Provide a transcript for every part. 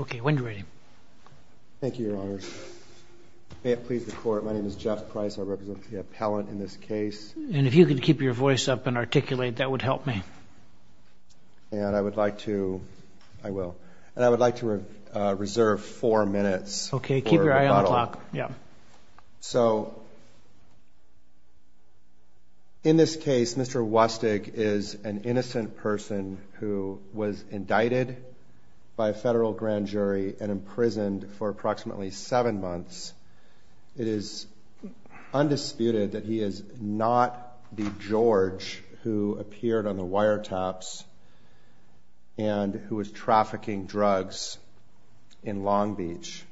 Okay, when do you write him? Thank you, Your Honor. May it please the Court, my name is Jeff Price, I represent the appellant in this case. And if you could keep your voice up and articulate, that would help me. And I would like to, I will, and I would like to reserve four minutes for rebuttal. Okay, keep your eye on the clock, yeah. So, in this case, Mr. Wusstig is an innocent person who was indicted by a federal grand jury and imprisoned for approximately seven months. It is undisputed that he is not the George who appeared on the wiretaps and who was trafficking drugs in Long Beach.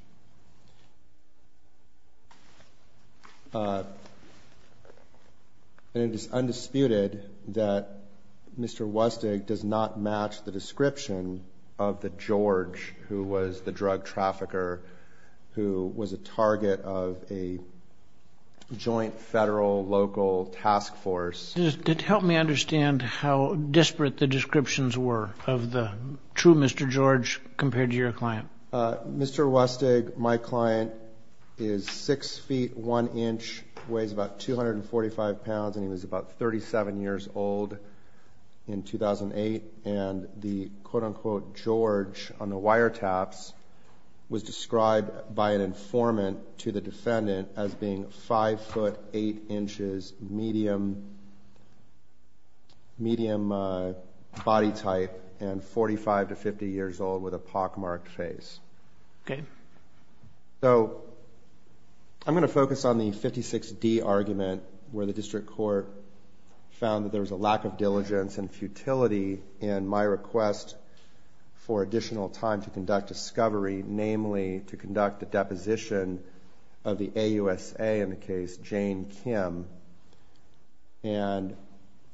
And it is undisputed that Mr. Wusstig does not match the description of the George who was the drug trafficker, who was a target of a joint federal-local task force. Just help me understand how disparate the descriptions were of the true Mr. George compared to your client. Mr. Wusstig, my client, is six feet, one inch, weighs about 245 pounds, and he was about 37 years old in 2008. And the quote-unquote George on the wiretaps was described by an informant to the defendant as being five foot, eight inches, medium body type, and 45 to 50 years old with a pockmarked face. Okay. So, I'm going to focus on the 56D argument where the district court found that there was a lack of diligence and futility in my request for additional time to conduct discovery, namely to conduct a deposition of the AUSA in the case Jane Kim. And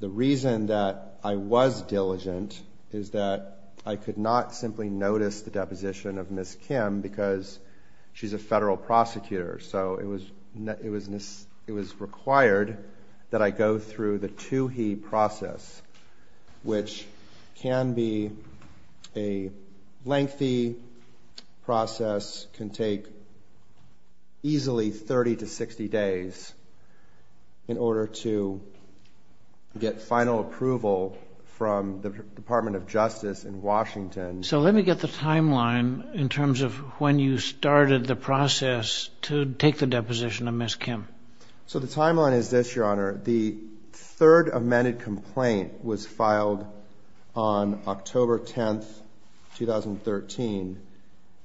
the reason that I was diligent is that I could not simply notice the deposition of Ms. Kim because she's a federal prosecutor, so it was required that I go through the to-he process, which can be a lengthy process, can take easily 30 to 60 days in order to get final approval from the Department of Justice in Washington. So, let me get the timeline in terms of when you started the process to take the deposition of Ms. Kim. So, the timeline is this, Your Honor. The third amended complaint was filed on October 10, 2013.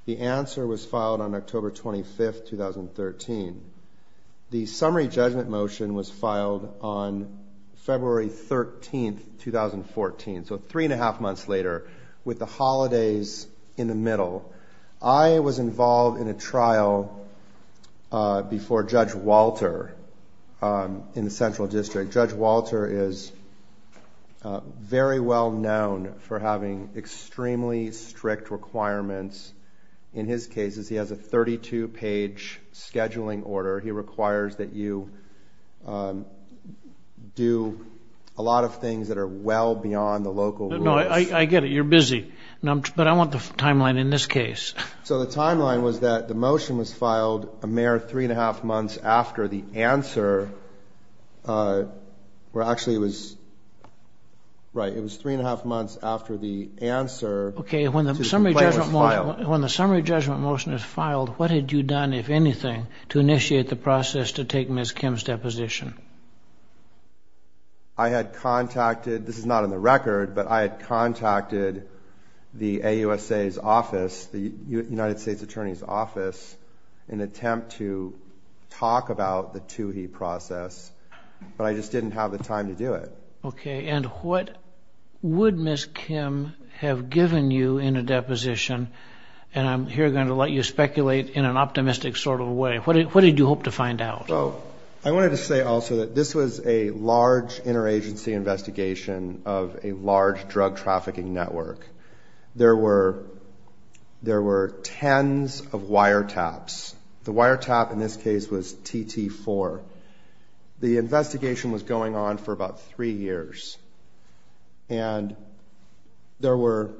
The answer was filed on October 25, 2013. The summary judgment motion was filed on February 13, 2014, so three and a half months later, with the holidays in the middle. I was involved in a trial before Judge Walter in the Central District. Judge Walter is very well known for having extremely strict requirements. In his cases, he has a 32-page scheduling order. He requires that you do a lot of things that are well beyond the local rules. No, I get it. You're busy. But I want the timeline in this case. So, the timeline was that the motion was filed a mere three and a half months after the answer, where actually it was, right, it was three and a half months after the answer to the complaint was filed. Okay, when the summary judgment motion is filed, what had you done, if anything, to initiate the process to take Ms. Kim's deposition? I had contacted, this is not in the record, but I had contacted the AUSA's office, the United States Attorney's office, in an attempt to talk about the TUHE process, but I just didn't have the time to do it. Okay, and what would Ms. Kim have given you in a deposition? And I'm here going to let you speculate in an optimistic sort of way. What did you hope to find out? Well, I wanted to say also that this was a large interagency investigation of a large drug trafficking network. There were tens of wiretaps. The wiretap in this case was TT4. The investigation was going on for about three years, and there were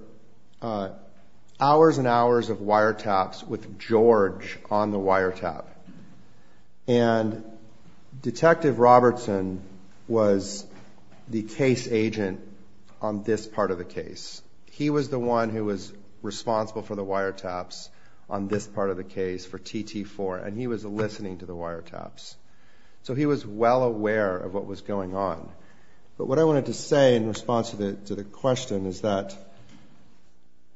hours and hours of wiretaps with George on the wiretap. And Detective Robertson was the case agent on this part of the case. He was the one who was responsible for the wiretaps on this part of the case for TT4, and he was listening to the wiretaps. So he was well aware of what was going on. But what I wanted to say in response to the question is that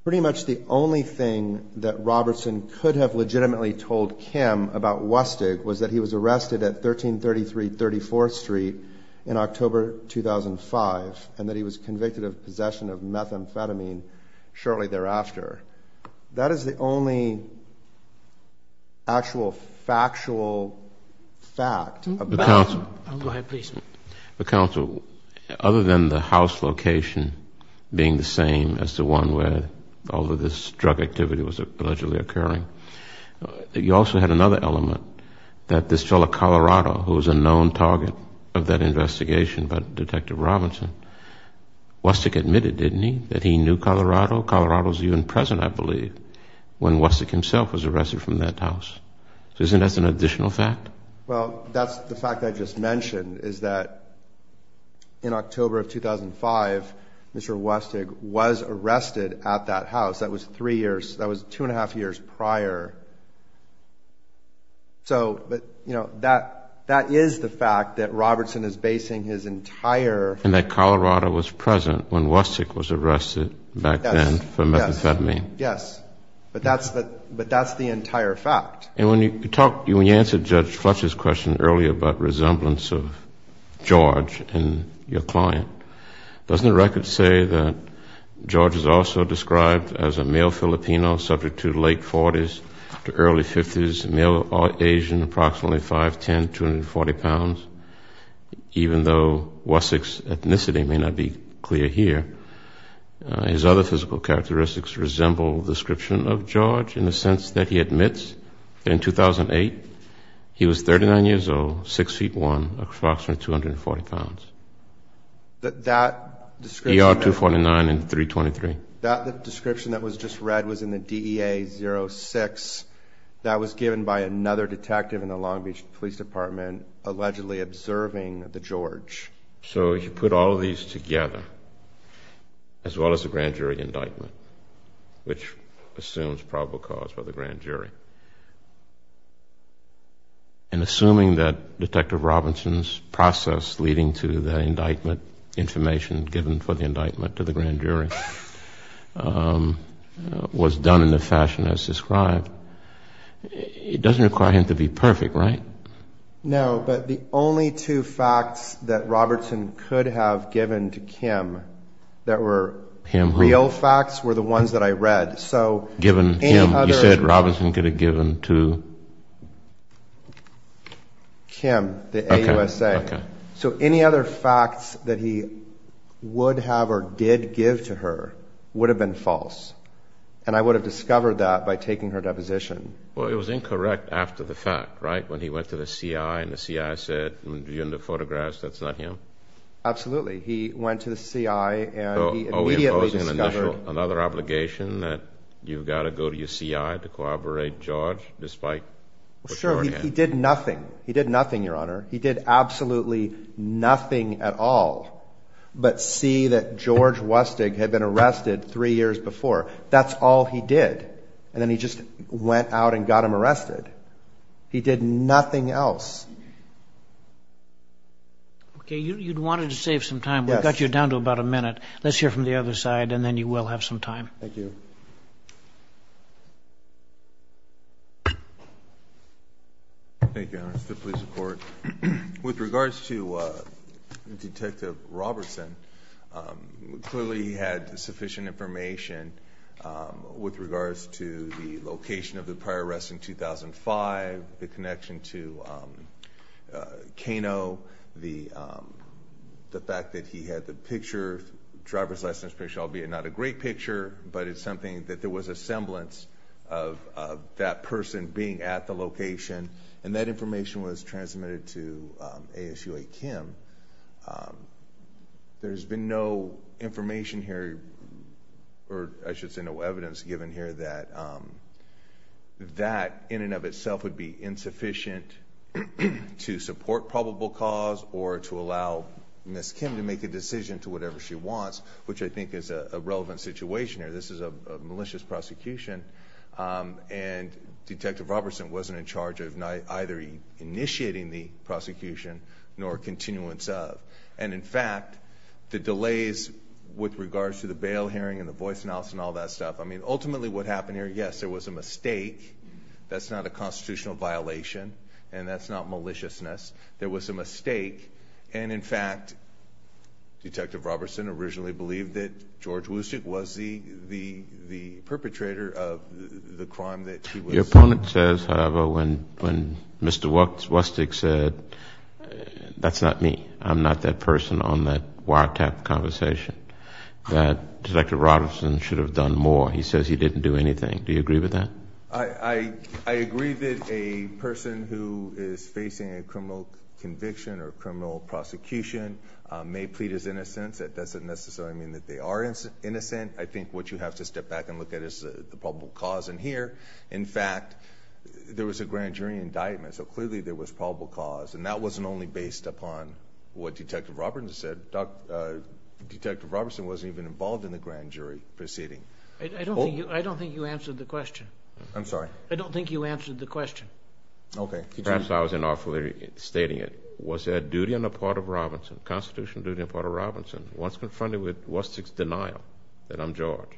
pretty much the only thing that Robertson could have legitimately told Kim about Wustig was that he was arrested at 1333 34th Street in October 2005 and that he was convicted of possession of methamphetamine shortly thereafter. That is the only actual factual fact about it. Go ahead, please. Counsel, other than the house location being the same as the one where all of this drug activity was allegedly occurring, you also had another element that this fellow Colorado, who was a known target of that investigation by Detective Robertson, Wustig admitted, didn't he, that he knew Colorado? Colorado was even present, I believe, when Wustig himself was arrested from that house. So isn't that an additional fact? Well, that's the fact I just mentioned, is that in October of 2005, Mr. Wustig was arrested at that house. That was three years, that was two and a half years prior. So, but, you know, that is the fact that Robertson is basing his entire... And that Colorado was present when Wustig was arrested back then for methamphetamine. Yes. But that's the entire fact. And when you talked, when you answered Judge Fletcher's question earlier about resemblance of George and your client, doesn't the record say that George is also described as a male Filipino subject to late 40s to early 50s, male or Asian, approximately 5'10", 240 pounds, even though Wustig's ethnicity may not be clear here? His other physical characteristics resemble description of George in the sense that he admits that in 2008 he was 39 years old, 6'1", approximately 240 pounds. That description... ER 249 and 323. That description that was just read was in the DEA 06. That was given by another detective in the Long Beach Police Department allegedly observing the George. So you put all of these together, as well as the grand jury indictment, which assumes probable cause by the grand jury. And assuming that Detective Robinson's process leading to the indictment, information given for the indictment to the grand jury, was done in the fashion as described, it doesn't require him to be perfect, right? No, but the only two facts that Robinson could have given to Kim that were... Him who? The old facts were the ones that I read, so... Given him, you said Robinson could have given to... Kim, the AUSA. Okay, okay. So any other facts that he would have or did give to her would have been false. And I would have discovered that by taking her deposition. Well, it was incorrect after the fact, right? When he went to the CI and the CI said, in the photographs, that's not him? Absolutely. He went to the CI and he immediately discovered... So are we imposing another obligation that you've got to go to your CI to corroborate George despite... Well, sure. He did nothing. He did nothing, Your Honor. He did absolutely nothing at all but see that George Wusting had been arrested three years before. That's all he did. And then he just went out and got him arrested. He did nothing else. Okay, you wanted to save some time. We've got you down to about a minute. Let's hear from the other side and then you will have some time. Thank you. Thank you, Your Honor. It's the police report. With regards to Detective Robertson, clearly he had sufficient information with regards to the location of the prior arrest in 2005, the connection to Kano, the fact that he had the picture, driver's license picture, albeit not a great picture but it's something that there was a semblance of that person being at the location and that information was transmitted to ASUA Kim. There's been no information here or I should say no evidence given here that that in and of itself would be insufficient to support probable cause or to allow Ms. Kim to make a decision to whatever she wants, which I think is a relevant situation here. This is a malicious prosecution and Detective Robertson wasn't in charge of either initiating the prosecution nor continuance of. And in fact, the delays with regards to the bail hearing and the voice announcement and all that stuff, I mean, ultimately what happened here, yes, there was a mistake. That's not a constitutional violation and that's not maliciousness. There was a mistake and in fact, Detective Robertson originally believed that George Wustig was the perpetrator of the crime that he was. Your opponent says, however, when Mr. Wustig said, that's not me, I'm not that person on that wiretap conversation, that Detective Robertson should have done more. He says he didn't do anything. Do you agree with that? I agree that a person who is facing a criminal conviction or criminal prosecution may plead his innocence. That doesn't necessarily mean that they are innocent. I think what you have to step back and look at is the probable cause in here. In fact, there was a grand jury indictment, so clearly there was probable cause. And that wasn't only based upon what Detective Robertson said. Detective Robertson wasn't even involved in the grand jury proceeding. I don't think you answered the question. I'm sorry? I don't think you answered the question. Okay. Perhaps I was inoffensively stating it. Was there a duty on the part of Robinson, a constitutional duty on the part of Robinson, once confronted with Wustig's denial that I'm George,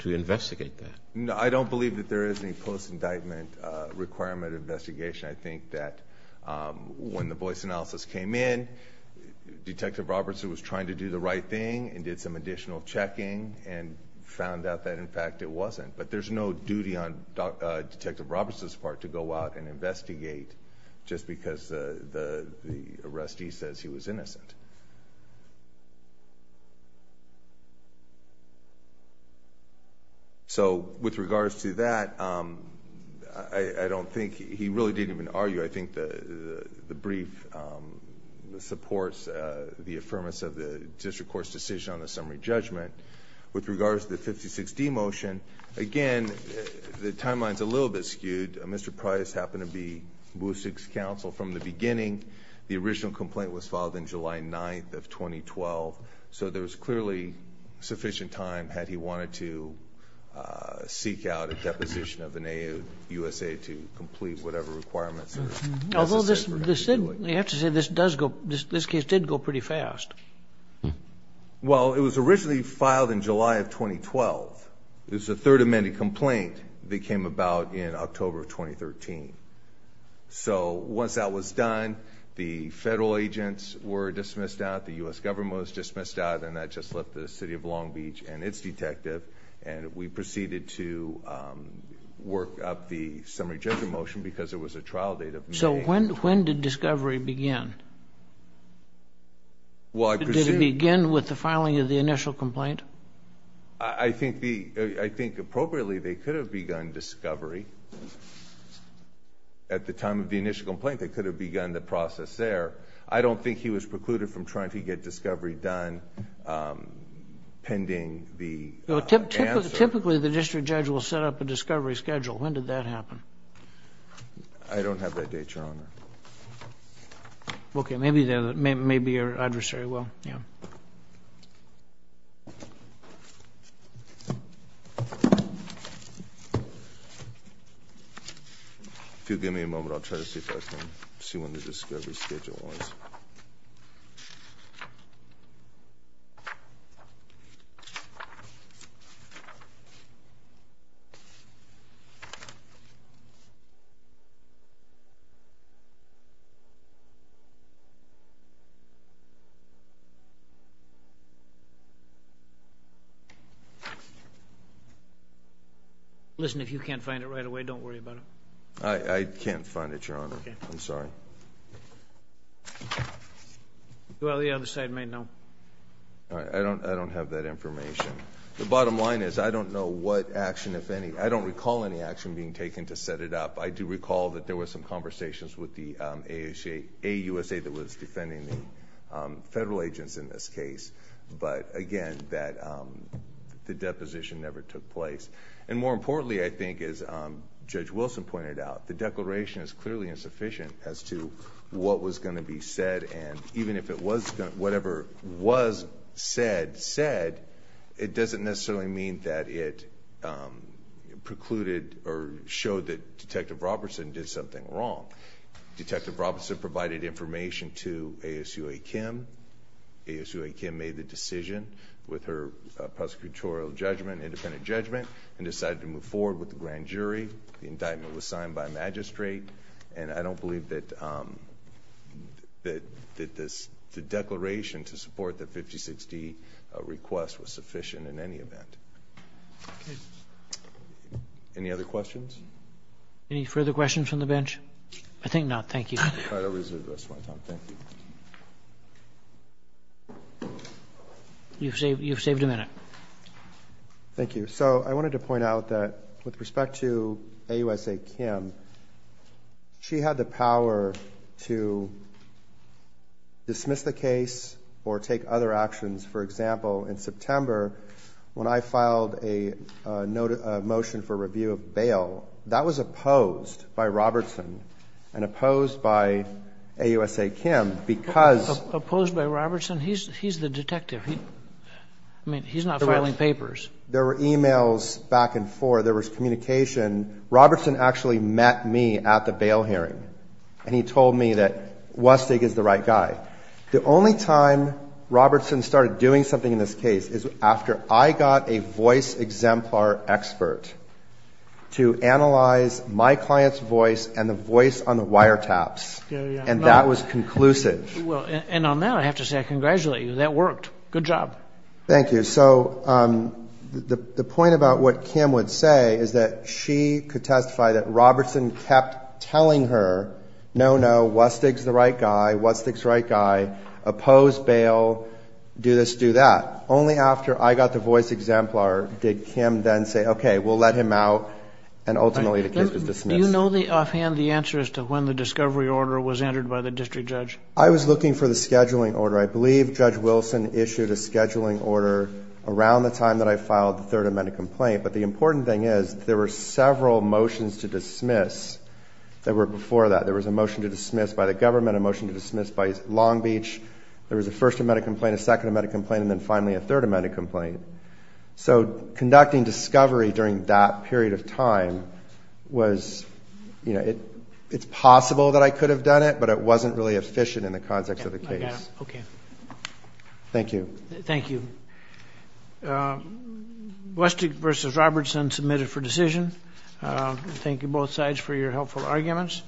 to investigate that? I don't believe that there is any post-indictment requirement of investigation. I think that when the voice analysis came in, Detective Robertson was trying to do the right thing and did some additional checking and found out that, in fact, it wasn't. But there's no duty on Detective Robertson's part to go out and investigate just because the arrestee says he was innocent. With regards to that, I don't think... he really didn't even argue. I think the brief supports the affirmance of the district court's decision on the summary judgment. With regards to the 56D motion, again, the timeline is a little bit skewed. Mr. Price happened to be Wustig's counsel from the beginning. The original complaint was filed on July 9th of 2012, so there was clearly sufficient time had he wanted to seek out a deposition of an AAU USA to complete whatever requirements were necessary for him to do it. Although you have to say this case did go pretty fast. Well, it was originally filed in July of 2012. It was a Third Amendment complaint that came about in October of 2013. So once that was done, the federal agents were dismissed out, the U.S. government was dismissed out, and that just left the city of Long Beach and its detective, and we proceeded to work up the summary judgment motion because it was a trial date of May. So when did discovery begin? Well, I presume... Did it begin with the filing of the initial complaint? I think appropriately they could have begun discovery at the time of the initial complaint. They could have begun the process there. I don't think he was precluded from trying to get discovery done pending the... Typically the district judge will set up a discovery schedule. When did that happen? I don't have that date, Your Honor. Okay. Maybe your adversary will. Yeah. If you'll give me a moment, I'll try to see if I can see when the discovery schedule was. Okay. Listen, if you can't find it right away, don't worry about it. I can't find it, Your Honor. Okay. I'm sorry. Well, the other side may know. I don't have that information. The bottom line is I don't know what action, if any... I don't recall any action being taken to set it up. I do recall that there was some conversations with the AUSA that was defending the federal agents in this case. But again, the deposition never took place. More importantly, I think as Judge Wilson pointed out, the declaration is clearly insufficient as to what was going to be said. Even if whatever was said, said, it doesn't necessarily mean that it precluded or showed that Detective Robertson did something wrong. Detective Robertson provided information to ASUA Kim. ASUA Kim made the decision with her prosecutorial judgment, independent judgment, and decided to move forward with the grand jury. The indictment was signed by a magistrate, and I don't believe that the declaration to support the 5060 request was sufficient in any event. Any other questions? Any further questions from the bench? I think not. Thank you. All right, I'll reserve this one. Thank you. You've saved a minute. Thank you. So I wanted to point out that with respect to AUSA Kim, she had the power to dismiss the case or take other actions. For example, in September, when I filed a motion for review of bail, that was opposed by Robertson and opposed by AUSA Kim because Opposed by Robertson? He's the detective. I mean, he's not filing papers. There were e-mails back and forth. There was communication. Robertson actually met me at the bail hearing, and he told me that Wustig is the right guy. The only time Robertson started doing something in this case is after I got a voice exemplar expert to analyze my client's voice and the voice on the wiretaps, and that was conclusive. Well, and on that, I have to say I congratulate you. That worked. Good job. Thank you. So the point about what Kim would say is that she could testify that Robertson kept telling her, no, no, Wustig's the right guy, Wustig's the right guy, opposed bail, do this, do that. Only after I got the voice exemplar did Kim then say, okay, we'll let him out, and ultimately the case was dismissed. Do you know offhand the answer as to when the discovery order was entered by the district judge? I was looking for the scheduling order. I believe Judge Wilson issued a scheduling order around the time that I filed the Third Amendment complaint. But the important thing is there were several motions to dismiss that were before that. There was a motion to dismiss by the government, a motion to dismiss by Long Beach. There was a First Amendment complaint, a Second Amendment complaint, and then finally a Third Amendment complaint. So conducting discovery during that period of time was, you know, it's possible that I could have done it, but it wasn't really efficient in the context of the case. I got it. Okay. Thank you. Thank you. Wustig v. Robertson submitted for decision. Thank you, both sides, for your helpful arguments.